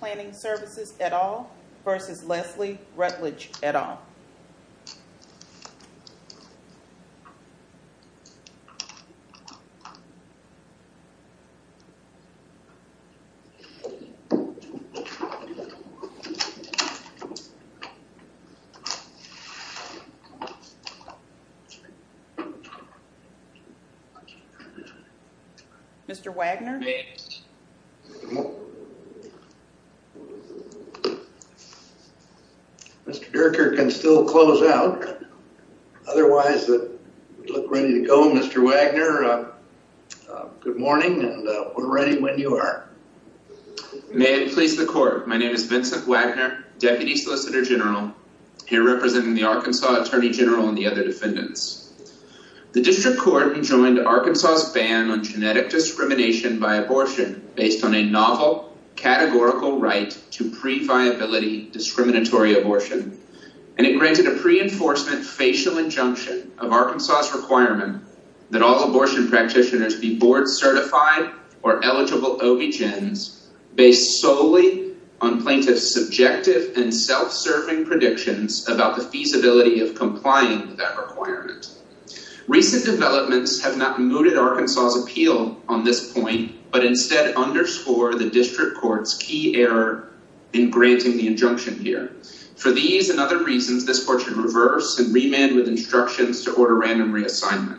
Planning Services et al. versus Leslie Rutledge et al. Mr. Wagner. Mr. Durker can still close out. Otherwise, we look ready to go. Mr. Wagner, good morning and we're ready when you are. May it please the court. My name is Vincent Wagner, Deputy Solicitor General, here representing the Arkansas Attorney General and the other defendants. The District Court enjoined Arkansas's ban on genetic discrimination by abortion based on a novel categorical right to pre-viability discriminatory abortion. And it granted a pre-enforcement facial injunction of Arkansas's requirement that all abortion practitioners be board certified or eligible OBGYNs based solely on plaintiffs' subjective and self-serving predictions about the feasibility of complying with that requirement. Recent developments have not mooted Arkansas's appeal on this point, but instead underscore the District Court's key error in granting the injunction here. For these and other reasons, this court should reverse and remand with instructions to order random reassignment.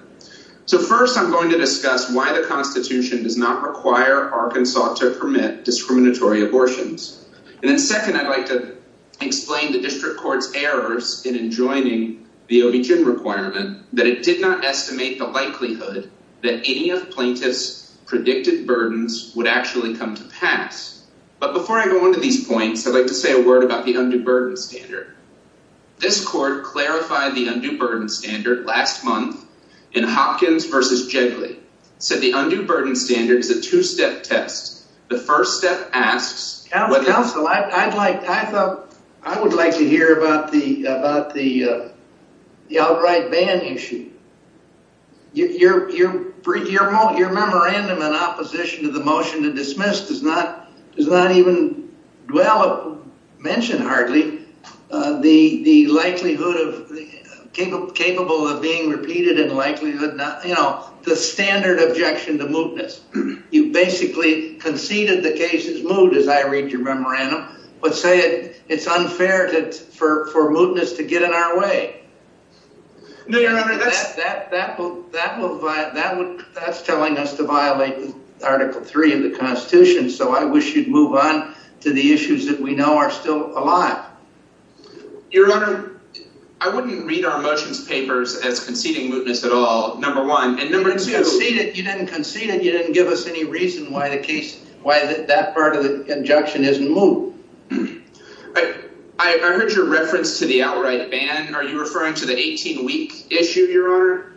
So first, I'm going to discuss why the Constitution does not require Arkansas to permit discriminatory abortions. And then second, I'd like to explain the District Court's errors in enjoining the OBGYN requirement that it did not estimate the likelihood that any of plaintiffs' predicted burdens would actually come to pass. But before I go on to these points, I'd like to say a word about the undue burden standard. This court clarified the undue burden standard last month in Hopkins v. Jigley. It said the undue burden standard is a two-step test. The first step asks... Well, it mentioned hardly the likelihood of...capable of being repeated in likelihood. You know, the standard objection to mootness. You basically conceded the case is moot, as I read your memorandum, but say it's unfair for mootness to get in our way. No, Your Honor, that's... That's telling us to violate Article 3 of the Constitution, so I wish you'd move on to the issues that we know are still alive. Your Honor, I wouldn't read our motions papers as conceding mootness at all, number one. And number two... You didn't concede it. You didn't concede it. You didn't give us any reason why the case...why that part of the injunction isn't moot. I heard your reference to the outright ban. Are you referring to the 18 weeks issue, Your Honor?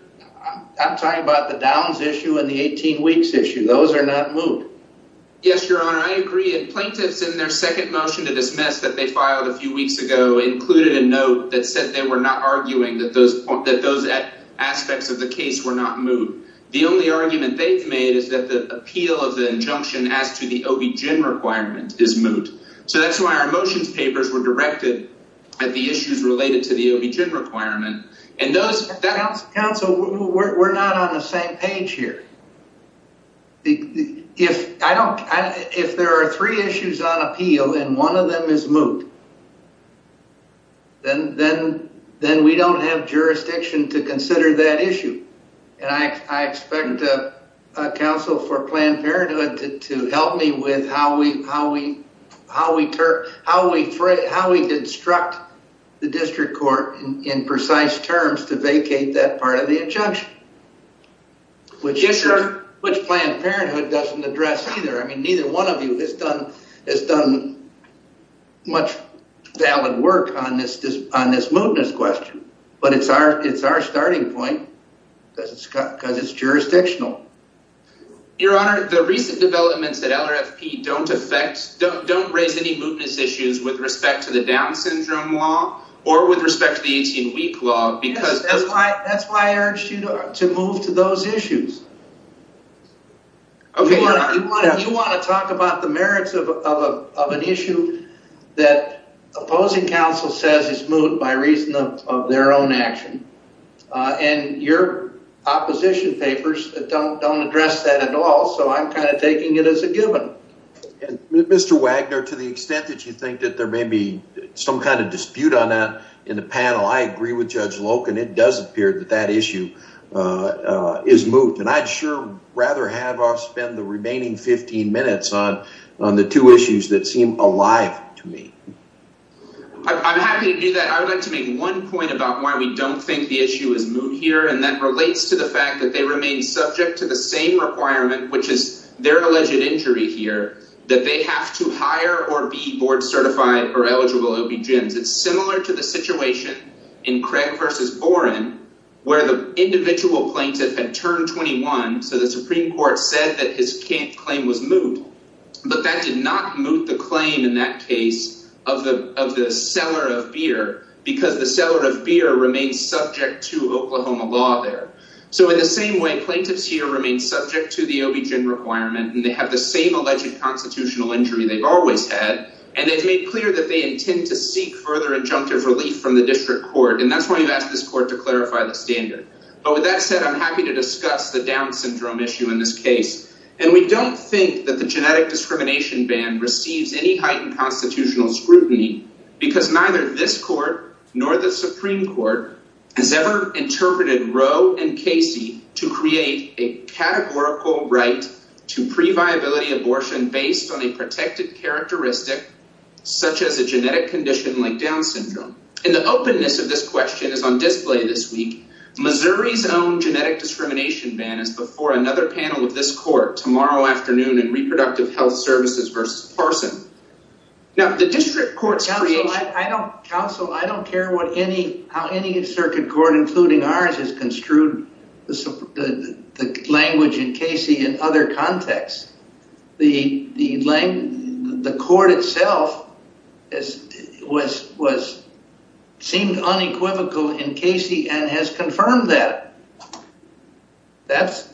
I'm talking about the downs issue and the 18 weeks issue. Those are not moot. Yes, Your Honor, I agree. And plaintiffs in their second motion to dismiss that they filed a few weeks ago included a note that said they were not arguing that those aspects of the case were not moot. The only argument they've made is that the appeal of the injunction as to the OBGYN requirement is moot. So that's why our motions papers were directed at the issues related to the OBGYN requirement. Counsel, we're not on the same page here. If there are three issues on appeal and one of them is moot, then we don't have jurisdiction to consider that issue. I expect counsel for Planned Parenthood to help me with how we instruct the district court in precise terms to vacate that part of the injunction, which Planned Parenthood doesn't address either. Neither one of you has done much valid work on this mootness question. But it's our starting point because it's jurisdictional. Your Honor, the recent developments at LRFP don't raise any mootness issues with respect to the Down Syndrome law or with respect to the 18 week law. That's why I urged you to move to those issues. You want to talk about the merits of an issue that opposing counsel says is moot by reason of their own action. And your opposition papers don't address that at all. So I'm kind of taking it as a given. Mr. Wagner, to the extent that you think that there may be some kind of dispute on that in the panel, I agree with Judge Loken. It does appear that that issue is moot. And I'd sure rather have our spend the remaining 15 minutes on the two issues that seem alive to me. I'm happy to do that. I would like to make one point about why we don't think the issue is moot here. And that relates to the fact that they remain subject to the same requirement, which is their alleged injury here, that they have to hire or be board certified or eligible OB gyms. It's similar to the situation in Craig versus Boren, where the individual plaintiff had turned 21. So the Supreme Court said that his can't claim was moot. But that did not move the claim in that case of the of the seller of beer because the seller of beer remains subject to Oklahoma law there. So in the same way, plaintiffs here remain subject to the OB gym requirement. And they have the same alleged constitutional injury they've always had. And it's made clear that they intend to seek further injunctive relief from the district court. And that's why you ask this court to clarify the standard. But with that said, I'm happy to discuss the down syndrome issue in this case. And we don't think that the genetic discrimination ban receives any heightened constitutional scrutiny because neither this court nor the Supreme Court has ever interpreted Roe and Casey to create a categorical right to previability abortion based on a protected characteristic, such as a genetic condition like down syndrome. And the openness of this question is on display this week. Missouri's own genetic discrimination ban is before another panel of this court tomorrow afternoon in Reproductive Health Services versus Parsons. Now, the district courts. I don't counsel. I don't care what any how any circuit court, including ours, has construed the language in Casey and other contexts. The court itself seemed unequivocal in Casey and has confirmed that. That's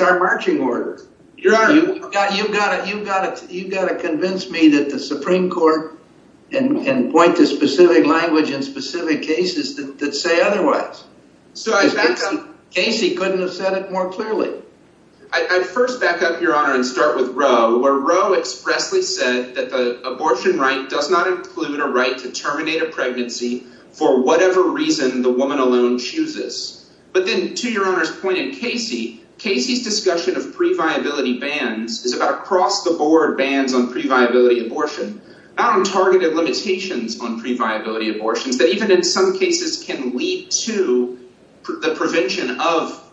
our marching order. You've got to convince me that the Supreme Court can point to specific language in specific cases that say otherwise. Casey couldn't have said it more clearly. I first back up, Your Honor, and start with Roe, where Roe expressly said that the abortion right does not include a right to terminate a pregnancy for whatever reason the woman alone chooses. But then, to Your Honor's point in Casey, Casey's discussion of previability bans is about across the board bans on previability abortion. Not on targeted limitations on previability abortions that even in some cases can lead to the prevention of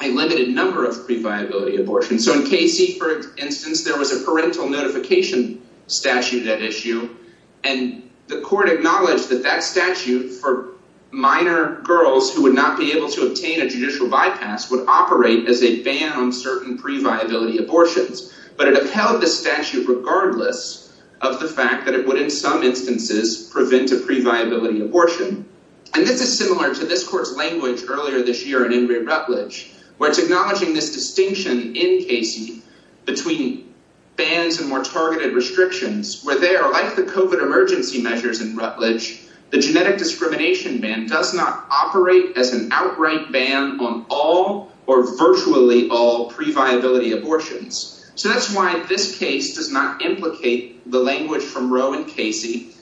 a limited number of previability abortions. So in Casey, for instance, there was a parental notification statute at issue. And the court acknowledged that that statute for minor girls who would not be able to obtain a judicial bypass would operate as a ban on certain previability abortions. But it upheld the statute regardless of the fact that it would, in some instances, prevent a previability abortion. And this is similar to this court's language earlier this year in Ingrid Rutledge, where it's acknowledging this distinction in Casey between bans and more targeted restrictions. Where there, like the COVID emergency measures in Rutledge, the genetic discrimination ban does not operate as an outright ban on all or virtually all previability abortions. So that's why this case does not implicate the language from Roe and Casey.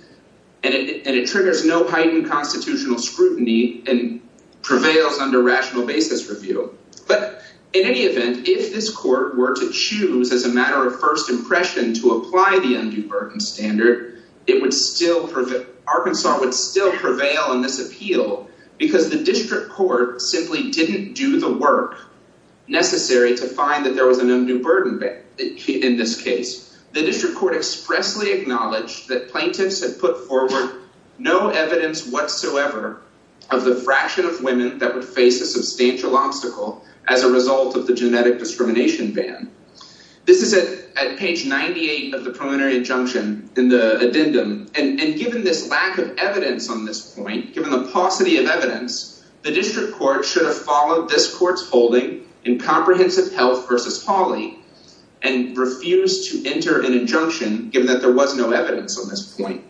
And it triggers no heightened constitutional scrutiny and prevails under rational basis review. But in any event, if this court were to choose as a matter of first impression to apply the undue burden standard, it would still—Arkansas would still prevail on this appeal. Because the district court simply didn't do the work necessary to find that there was an undue burden in this case. The district court expressly acknowledged that plaintiffs had put forward no evidence whatsoever of the fraction of women that would face a substantial obstacle as a result of the genetic discrimination ban. This is at page 98 of the preliminary injunction in the addendum. And given this lack of evidence on this point, given the paucity of evidence, the district court should have followed this court's holding in comprehensive health versus Hawley and refused to enter an injunction, given that there was no evidence on this point.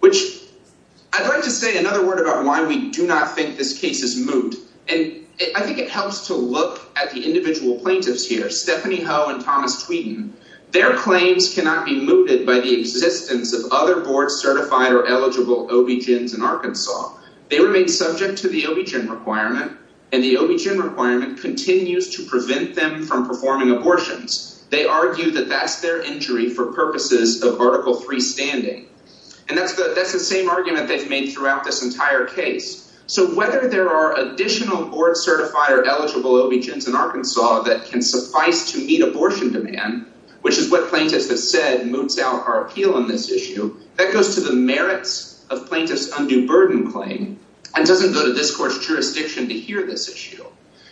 Which—I'd like to say another word about why we do not think this case is moot. And I think it helps to look at the individual plaintiffs here, Stephanie Ho and Thomas Tweeden. Their claims cannot be mooted by the existence of other board-certified or eligible OBGYNs in Arkansas. They remain subject to the OBGYN requirement, and the OBGYN requirement continues to prevent them from performing abortions. They argue that that's their injury for purposes of Article III standing. And that's the same argument they've made throughout this entire case. So whether there are additional board-certified or eligible OBGYNs in Arkansas that can suffice to meet abortion demand, which is what plaintiffs have said moots out our appeal on this issue, that goes to the merits of plaintiffs' undue burden claim and doesn't go to this court's jurisdiction to hear this issue.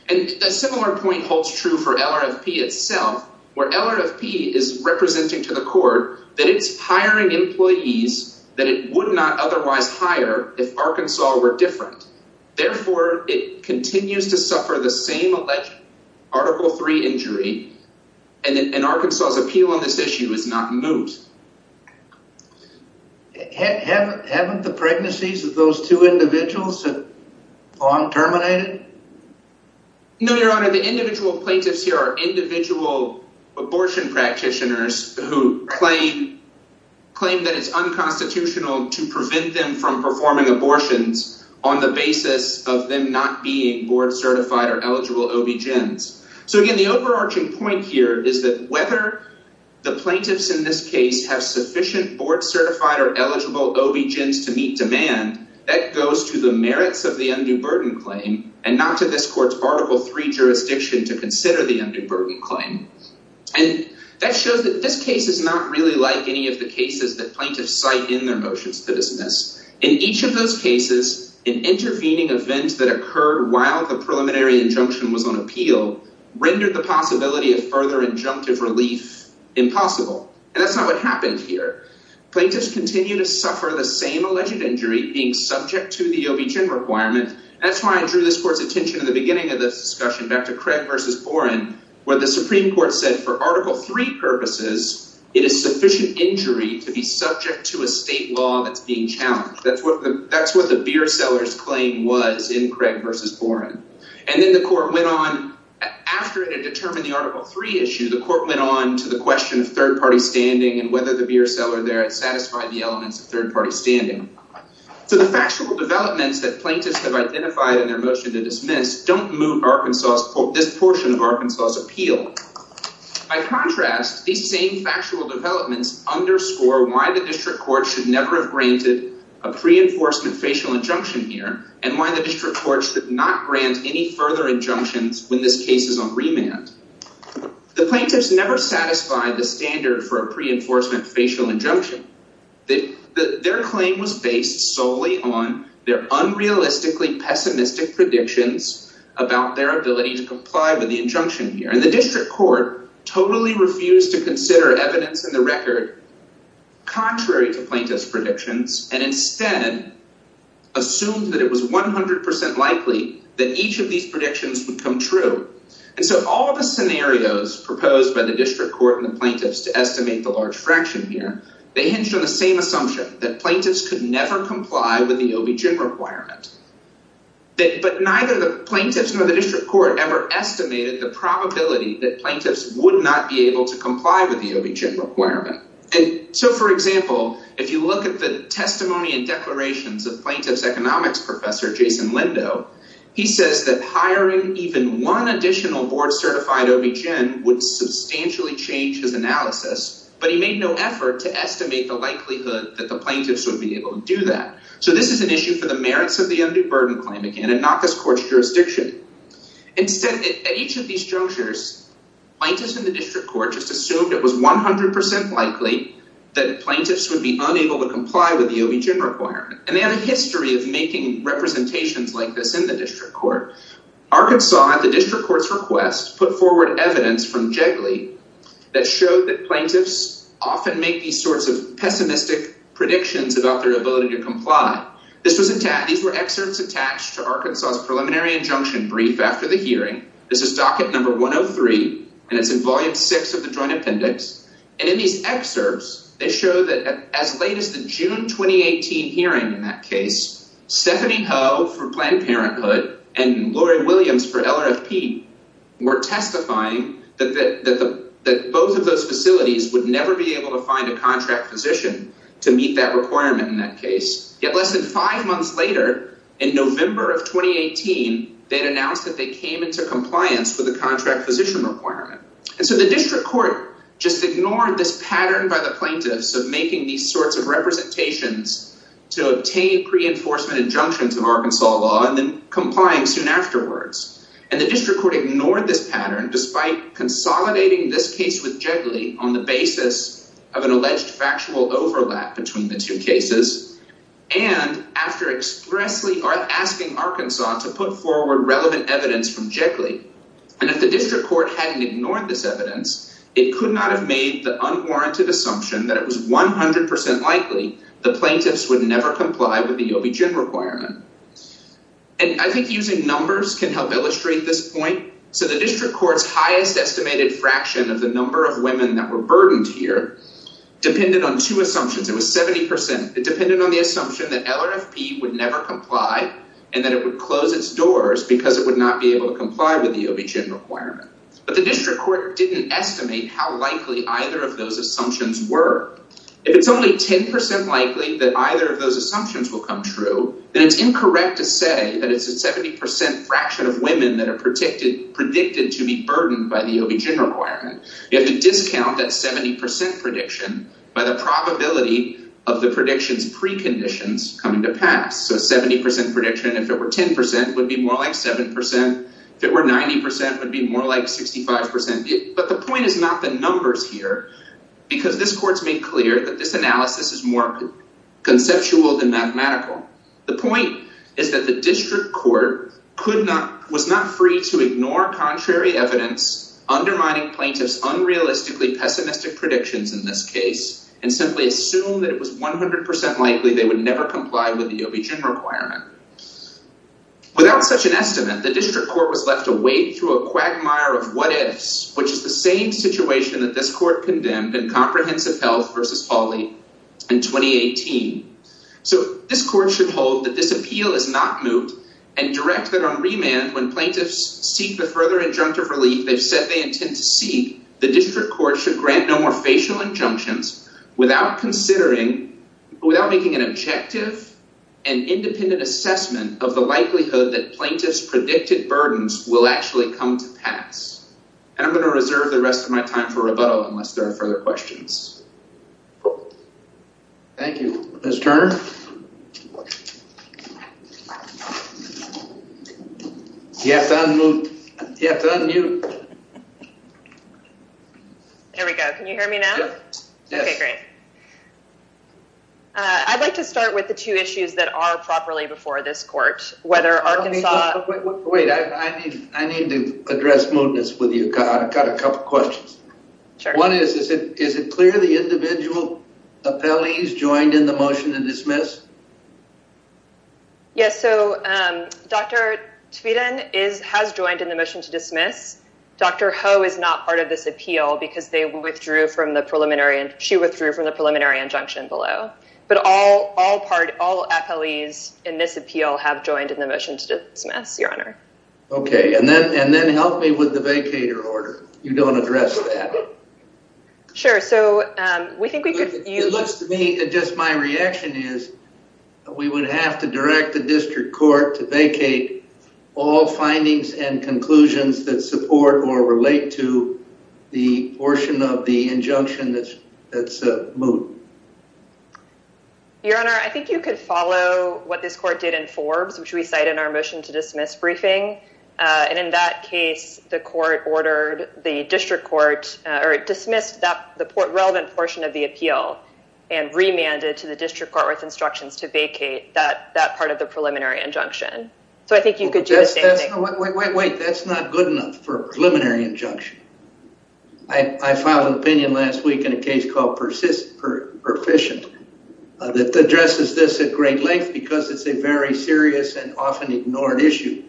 And a similar point holds true for LRFP itself, where LRFP is representing to the court that it's hiring employees that it would not otherwise hire if Arkansas were different. Therefore, it continues to suffer the same alleged Article III injury, and Arkansas' appeal on this issue is not moot. Haven't the pregnancies of those two individuals been terminated? No, Your Honor. The individual plaintiffs here are individual abortion practitioners who claim that it's unconstitutional to prevent them from performing abortions on the basis of them not being board-certified or eligible OBGYNs. So again, the overarching point here is that whether the plaintiffs in this case have sufficient board-certified or eligible OBGYNs to meet demand, that goes to the merits of the undue burden claim and not to this court's Article III jurisdiction to consider the undue burden claim. And that shows that this case is not really like any of the cases that plaintiffs cite in their motions to dismiss. In each of those cases, an intervening event that occurred while the preliminary injunction was on appeal rendered the possibility of further injunctive relief impossible. And that's not what happened here. Plaintiffs continue to suffer the same alleged injury being subject to the OBGYN requirement. That's why I drew this court's attention in the beginning of this discussion back to Craig v. Boren where the Supreme Court said for Article III purposes, it is sufficient injury to be subject to a state law that's being challenged. That's what the beer seller's claim was in Craig v. Boren. And then the court went on, after it had determined the Article III issue, the court went on to the question of third-party standing and whether the beer seller there had satisfied the elements of third-party standing. So the factual developments that plaintiffs have identified in their motion to dismiss don't move this portion of Arkansas' appeal. By contrast, these same factual developments underscore why the district court should never have granted a pre-enforcement facial injunction here and why the district court should not grant any further injunctions when this case is on remand. The plaintiffs never satisfied the standard for a pre-enforcement facial injunction. Their claim was based solely on their unrealistically pessimistic predictions about their ability to comply with the injunction here. And the district court totally refused to consider evidence in the record contrary to plaintiffs' predictions and instead assumed that it was 100% likely that each of these predictions would come true. And so all of the scenarios proposed by the district court and the plaintiffs to estimate the large fraction here, they hinged on the same assumption that plaintiffs could never comply with the OBGYN requirement. But neither the plaintiffs nor the district court ever estimated the probability that plaintiffs would not be able to comply with the OBGYN requirement. And so for example, if you look at the testimony and declarations of plaintiff's economics professor, Jason Lindo, he says that hiring even one additional board-certified OBGYN would substantially change his analysis, but he made no effort to estimate the likelihood that the plaintiffs would be able to do that. So this is an issue for the merits of the undue burden claim again and not this court's jurisdiction. Instead, at each of these junctures, plaintiffs in the district court just assumed it was 100% likely that plaintiffs would be unable to comply with the OBGYN requirement. And they have a history of making representations like this in the district court. Arkansas, at the district court's request, put forward evidence from Jigley that showed that plaintiffs often make these sorts of pessimistic predictions about their ability to comply. These were excerpts attached to Arkansas's preliminary injunction brief after the hearing. This is docket number 103, and it's in volume 6 of the Joint Appendix. And in these excerpts, they show that as late as the June 2018 hearing in that case, Stephanie Ho for Planned Parenthood and Lori Williams for LRFP were testifying that both of those facilities would never be able to find a contract physician to meet that requirement in that case. Yet less than five months later, in November of 2018, they had announced that they came into compliance with the contract physician requirement. And so the district court just ignored this pattern by the plaintiffs of making these sorts of representations to obtain pre-enforcement injunctions of Arkansas law and then complying soon afterwards. And the district court ignored this pattern despite consolidating this case with Jigley on the basis of an alleged factual overlap between the two cases and after expressly asking Arkansas to put forward relevant evidence from Jigley. And if the district court hadn't ignored this evidence, it could not have made the unwarranted assumption that it was 100% likely the plaintiffs would never comply with the OBGYN requirement. And I think using numbers can help illustrate this point. So the district court's highest estimated fraction of the number of women that were burdened here depended on two assumptions. It was 70%. It depended on the assumption that LRFP would never comply and that it would close its doors because it would not be able to comply with the OBGYN requirement. But the district court didn't estimate how likely either of those assumptions were. If it's only 10% likely that either of those assumptions will come true, then it's incorrect to say that it's a 70% fraction of women that are predicted to be burdened by the OBGYN requirement. You have to discount that 70% prediction by the probability of the prediction's preconditions coming to pass. So a 70% prediction, if it were 10%, would be more like 7%. If it were 90%, it would be more like 65%. But the point is not the numbers here because this court's made clear that this analysis is more conceptual than mathematical. The point is that the district court was not free to ignore contrary evidence, undermining plaintiffs' unrealistically pessimistic predictions in this case, and simply assume that it was 100% likely they would never comply with the OBGYN requirement. Without such an estimate, the district court was left to wade through a quagmire of what-ifs, which is the same situation that this court condemned in Comprehensive Health v. Hawley in 2018. So this court should hold that this appeal is not moot and direct that on remand, when plaintiffs seek the further injunctive relief they've said they intend to seek, the district court should grant no more facial injunctions without making an objective and independent assessment of the likelihood that plaintiffs' predicted burdens will actually come to pass. And I'm going to reserve the rest of my time for rebuttal unless there are further questions. Thank you. Ms. Turner? You have to unmute. You have to unmute. There we go. Can you hear me now? Yes. Okay, great. I'd like to start with the two issues that are properly before this court, whether Arkansas... Wait, I need to address mootness with you. I've got a couple questions. Sure. One is, is it clear the individual appellees joined in the motion to dismiss? Yes, so Dr. Tveden has joined in the motion to dismiss. Dr. Ho is not part of this appeal because she withdrew from the preliminary injunction below. But all appellees in this appeal have joined in the motion to dismiss, Your Honor. Okay, and then help me with the vacator order. You don't address that. Sure, so we think we could... It looks to me, just my reaction is we would have to direct the district court to vacate all findings and conclusions that support or relate to the portion of the injunction that's moot. Your Honor, I think you could follow what this court did in Forbes, which we cite in our motion to dismiss briefing. And in that case, the court ordered the district court or dismissed the relevant portion of the appeal and remanded to the district court with instructions to vacate that part of the preliminary injunction. So I think you could do the same thing. Wait, that's not good enough for a preliminary injunction. I filed an opinion last week in a case called Perficient that addresses this at great length because it's a very serious and often ignored issue.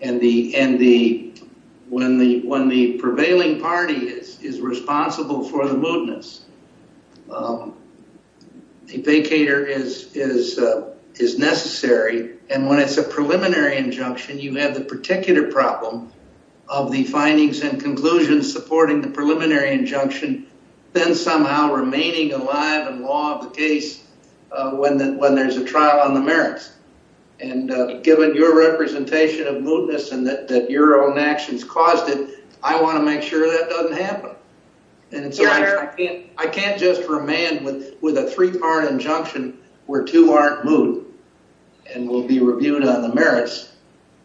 And when the prevailing party is responsible for the mootness, a vacator is necessary. And when it's a preliminary injunction, you have the particular problem of the findings and conclusions supporting the preliminary injunction then somehow remaining alive in law of the case when there's a trial on the merits. And given your representation of mootness and that your own actions caused it, I want to make sure that doesn't happen. I can't just remand with a three-part injunction where two aren't moot and will be reviewed on the merits.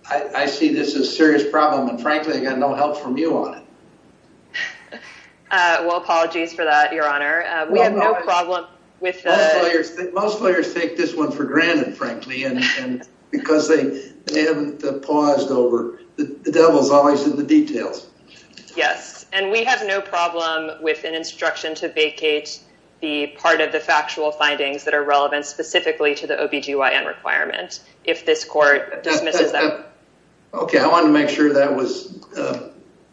I see this as a serious problem. And frankly, I got no help from you on it. Well, apologies for that, Your Honor. We have no problem with that. Most lawyers take this one for granted, frankly, because they haven't paused over. The devil's always in the details. Yes. And we have no problem with an instruction to vacate the part of the factual findings that are relevant specifically to the OB-GYN requirement if this court dismisses that. Okay. I want to make sure that was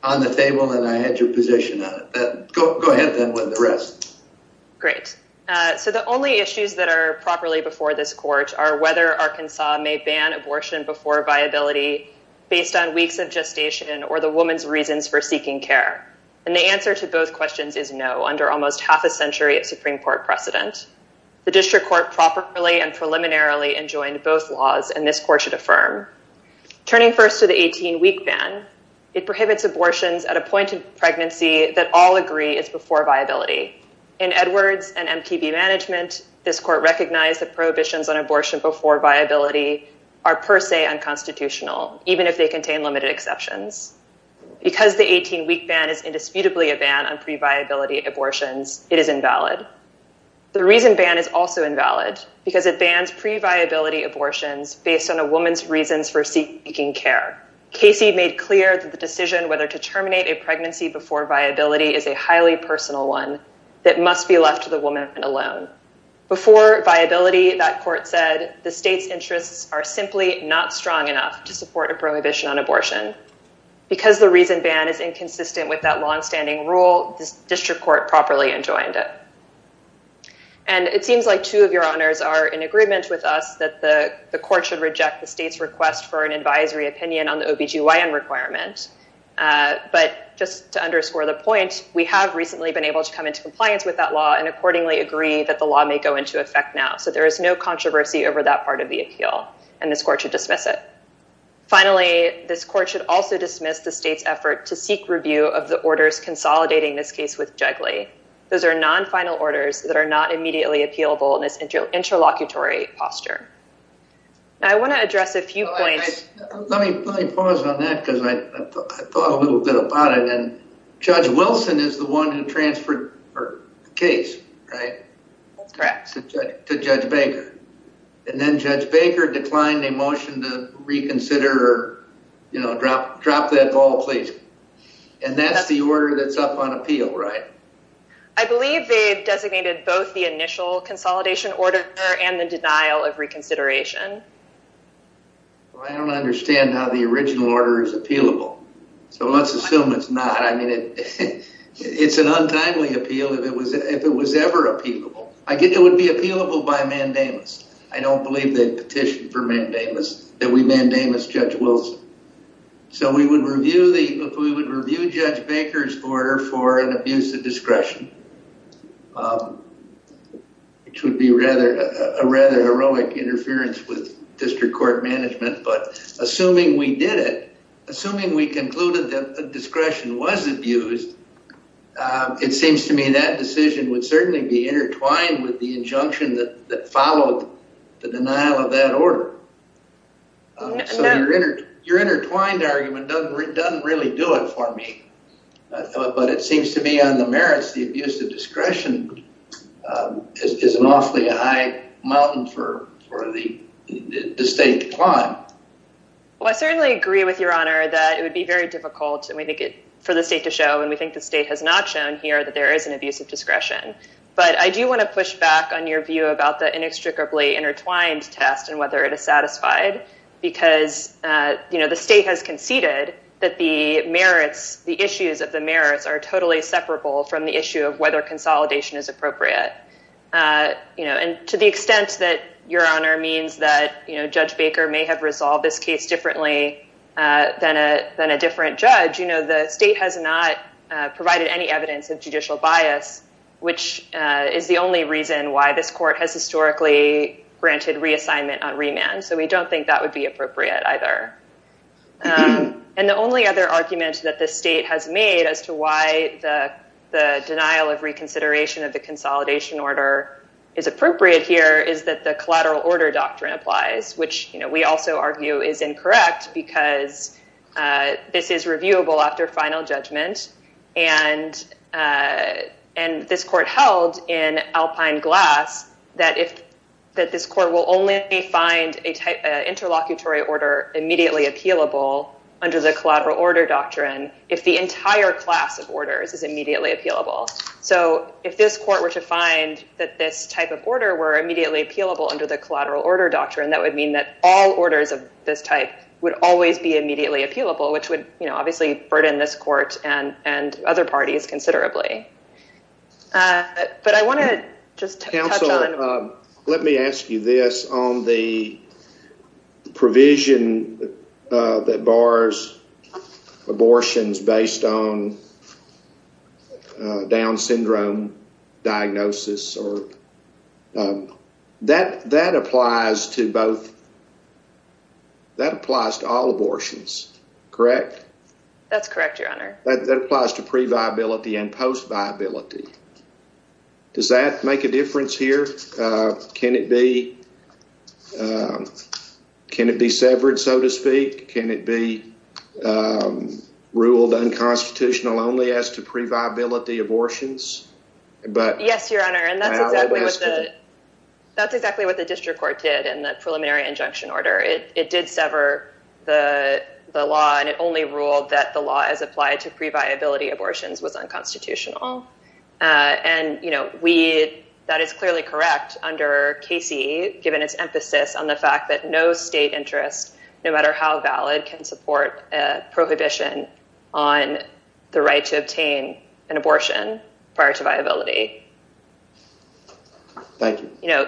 on the table and I had your position on it. Go ahead then with the rest. Great. So the only issues that are properly before this court are whether Arkansas may ban abortion before viability based on weeks of gestation or the woman's reasons for seeking care. And the answer to both questions is no under almost half a century of Supreme Court precedent. The district court properly and preliminarily enjoined both laws and this court should affirm. Turning first to the 18-week ban, it prohibits abortions at a point in pregnancy that all agree is before viability. In Edwards and MPB management, this court recognized that prohibitions on abortion before viability are per se unconstitutional, even if they contain limited exceptions. Because the 18-week ban is indisputably a ban on previability abortions, it is invalid. The reason ban is also invalid because it bans previability abortions based on a woman's reasons for seeking care. Casey made clear that the decision whether to terminate a pregnancy before viability is a highly personal one that must be left to the woman alone. Before viability, that court said, the state's interests are simply not strong enough to support a prohibition on abortion. Because the reason ban is inconsistent with that longstanding rule, this district court properly enjoined it. And it seems like two of your honors are in agreement with us that the court should reject the state's request for an advisory opinion on the OBGYN requirement. But just to underscore the point, we have recently been able to come into compliance with that law and accordingly agree that the law may go into effect now. So there is no controversy over that part of the appeal. And this court should dismiss it. Finally, this court should also dismiss the state's effort to seek review of the orders consolidating this case with Jigley. Those are non-final orders that are not immediately appealable in its interlocutory posture. I want to address a few points. Let me pause on that because I thought a little bit about it. And Judge Wilson is the one who transferred the case, right? That's correct. To Judge Baker. And then Judge Baker declined a motion to reconsider or, you know, drop that ball, please. And that's the order that's up on appeal, right? I believe they designated both the initial consolidation order and the denial of reconsideration. Well, I don't understand how the original order is appealable. So let's assume it's not. I mean, it's an untimely appeal if it was ever appealable. I think it would be appealable by mandamus. I don't believe they petitioned for mandamus, that we mandamus Judge Wilson. So if we would review Judge Baker's order for an abuse of discretion, which would be a rather heroic interference with district court management, but assuming we did it, assuming we concluded that the discretion was abused, it seems to me that decision would certainly be intertwined with the injunction that followed the denial of that order. So your intertwined argument doesn't really do it for me. But it seems to me on the merits, the abuse of discretion is an awfully high mountain for the state to climb. Well, I certainly agree with Your Honor that it would be very difficult for the state to show, and we think the state has not shown here, that there is an abuse of discretion. But I do want to push back on your view about the inextricably intertwined test and whether it is satisfied, because the state has conceded that the merits, the issues of the merits, are totally separable from the issue of whether consolidation is appropriate. And to the extent that Your Honor means that Judge Baker may have resolved this case differently than a different judge, you know, the state has not provided any evidence of judicial bias, which is the only reason why this court has historically granted reassignment on remand. So we don't think that would be appropriate either. And the only other argument that the state has made as to why the denial of reconsideration of the consolidation order is appropriate here is that the collateral order doctrine applies, which we also argue is incorrect because this is reviewable after final judgment, and this court held in alpine glass that this court will only find an interlocutory order immediately appealable under the collateral order doctrine if the entire class of orders is immediately appealable. So if this court were to find that this type of order were immediately appealable under the collateral order doctrine, that would mean that all orders of this type would always be immediately appealable, which would, you know, obviously burden this court and other parties considerably. But I want to just touch on... Counsel, let me ask you this. Based on the provision that bars abortions based on Down syndrome diagnosis, that applies to all abortions, correct? That's correct, your honor. That applies to pre-viability and post-viability. Does that make a difference here? Can it be severed, so to speak? Can it be ruled unconstitutional only as to pre-viability abortions? Yes, your honor, and that's exactly what the district court did in the preliminary injunction order. It did sever the law, and it only ruled that the law as applied to pre-viability abortions was unconstitutional. And that is clearly correct under KC, given its emphasis on the fact that no state interest, no matter how valid, can support a prohibition on the right to obtain an abortion prior to viability. Thank you.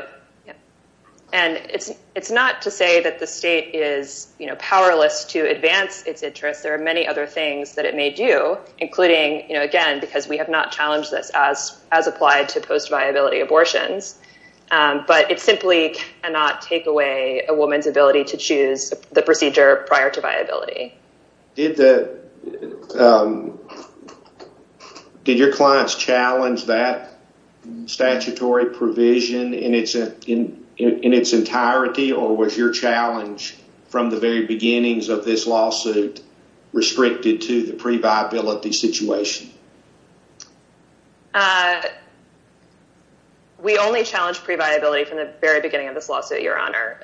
And it's not to say that the state is powerless to advance its interests. There are many other things that it may do, including, you know, again, because we have not challenged this as applied to post-viability abortions, but it simply cannot take away a woman's ability to choose the procedure prior to viability. Did your clients challenge that statutory provision in its entirety, or was your challenge from the very beginnings of this lawsuit restricted to the pre-viability situation? We only challenged pre-viability from the very beginning of this lawsuit, your honor.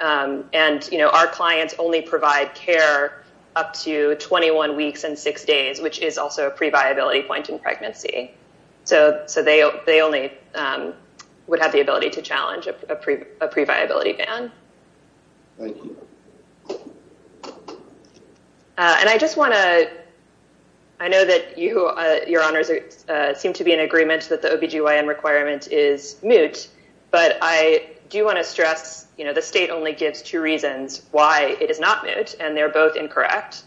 And, you know, our clients only provide care up to 21 weeks and 6 days, which is also a pre-viability point in pregnancy. So they only would have the ability to challenge a pre-viability ban. Thank you. And I just want to, I know that your honors seem to be in agreement that the OB-GYN requirement is moot, but I do want to stress, you know, the state only gives two reasons why it is not moot, and they're both incorrect.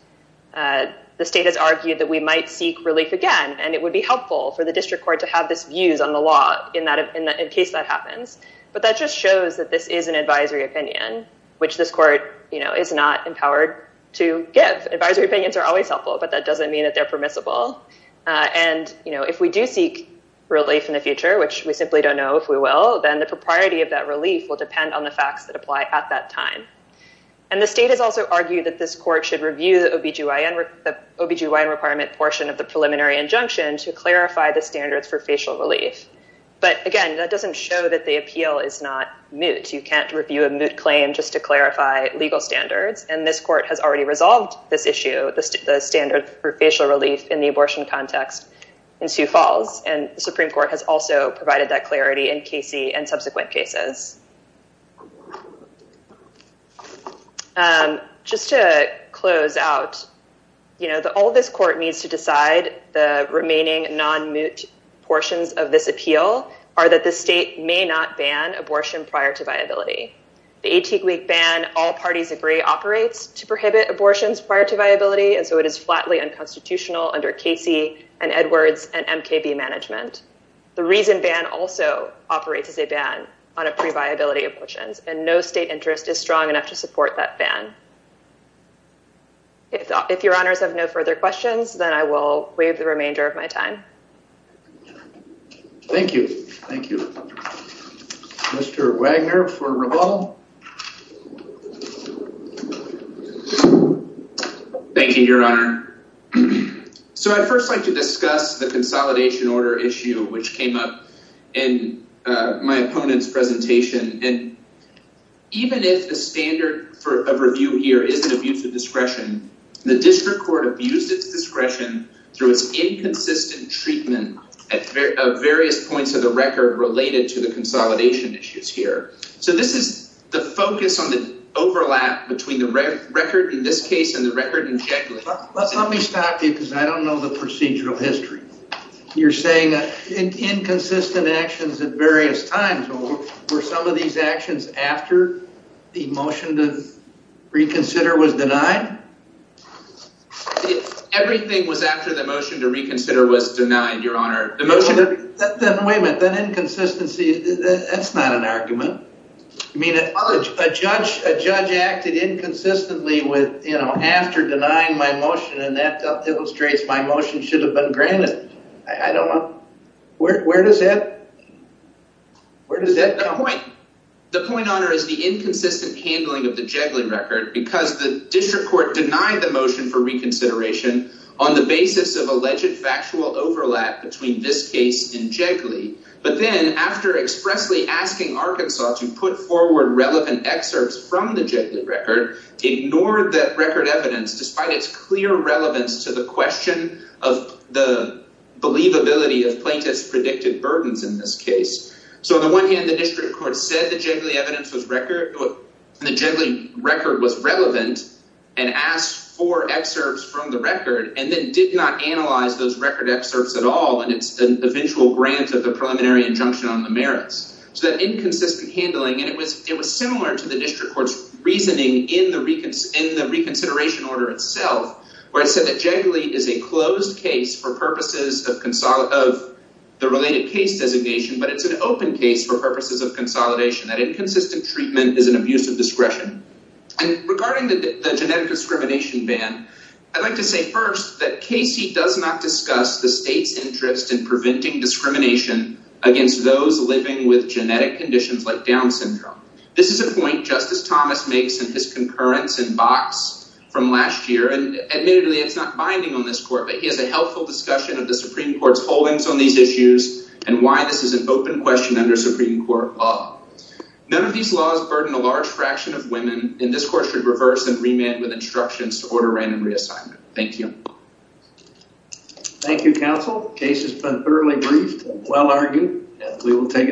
The state has argued that we might seek relief again, and it would be helpful for the district court to have these views on the law in case that happens. But that just shows that this is an advisory opinion, which this court, you know, is not empowered to give. Advisory opinions are always helpful, but that doesn't mean that they're permissible. And, you know, if we do seek relief in the future, which we simply don't know if we will, then the propriety of that relief will depend on the facts that apply at that time. And the state has also argued that this court should review the OB-GYN requirement portion of the preliminary injunction to clarify the standards for facial relief. But, again, that doesn't show that the appeal is not moot. You can't review a moot claim just to clarify legal standards, and this court has already resolved this issue, the standard for facial relief in the abortion context in Sioux Falls, and the Supreme Court has also provided that clarity in Casey and subsequent cases. Just to close out, you know, all this court needs to decide the remaining non-moot portions of this appeal are that the state may not ban abortion prior to viability. The 18-week ban all parties agree operates to prohibit abortions prior to viability, and so it is flatly unconstitutional under Casey and Edwards and MKB management. The reason ban also operates as a ban on a pre-viability abortions, and no state interest is strong enough to support that ban. If your honors have no further questions, then I will waive the remainder of my time. Thank you. Thank you. Mr. Wagner for Raval. Thank you, Your Honor. So I'd first like to discuss the consolidation order issue which came up in my opponent's presentation, and even if the standard of review here is an abuse of discretion, the district court abused its discretion through its inconsistent treatment at various points of the record related to the consolidation issues here. So this is the focus on the overlap between the record in this case and the record in Jekyll. Let me stop you because I don't know the procedural history. You're saying inconsistent actions at various times, were some of these actions after the motion to reconsider was denied? Everything was after the motion to reconsider was denied, Your Honor. Then wait a minute, that inconsistency, that's not an argument. I mean, a judge acted inconsistently after denying my motion, and that illustrates my motion should have been granted. I don't know, where does that, where does that point? The point, Your Honor, is the inconsistent handling of the Jekyll record because the district court denied the motion for reconsideration on the basis of alleged factual overlap between this case and Jekyll, but then after expressly asking Arkansas to put forward relevant excerpts from the Jekyll record, ignored that record evidence despite its clear relevance to the question of the believability of plaintiff's predicted burdens in this case. So on the one hand, the district court said the Jekyll record was relevant and asked for excerpts from the record and then did not analyze those record excerpts at all in its eventual grant of the preliminary injunction on the merits. So that inconsistent handling, and it was similar to the district court's reasoning in the reconsideration order itself, where it said that Jekyll is a closed case for purposes of the related case designation, but it's an open case for purposes of consolidation. That inconsistent treatment is an abuse of discretion. And regarding the genetic discrimination ban, I'd like to say first that Casey does not discuss the state's interest in preventing discrimination against those living with genetic conditions like Down syndrome. This is a point Justice Thomas makes in his concurrence in Box from last year, and admittedly it's not binding on this court, but he has a helpful discussion of the Supreme Court's holdings on these issues and why this is an open question under Supreme Court law. None of these laws burden a large fraction of women, and this Court should reverse and remand with instructions to order random reassignment. Thank you. Thank you, counsel. The case has been thoroughly briefed and well-argued. We will take it up.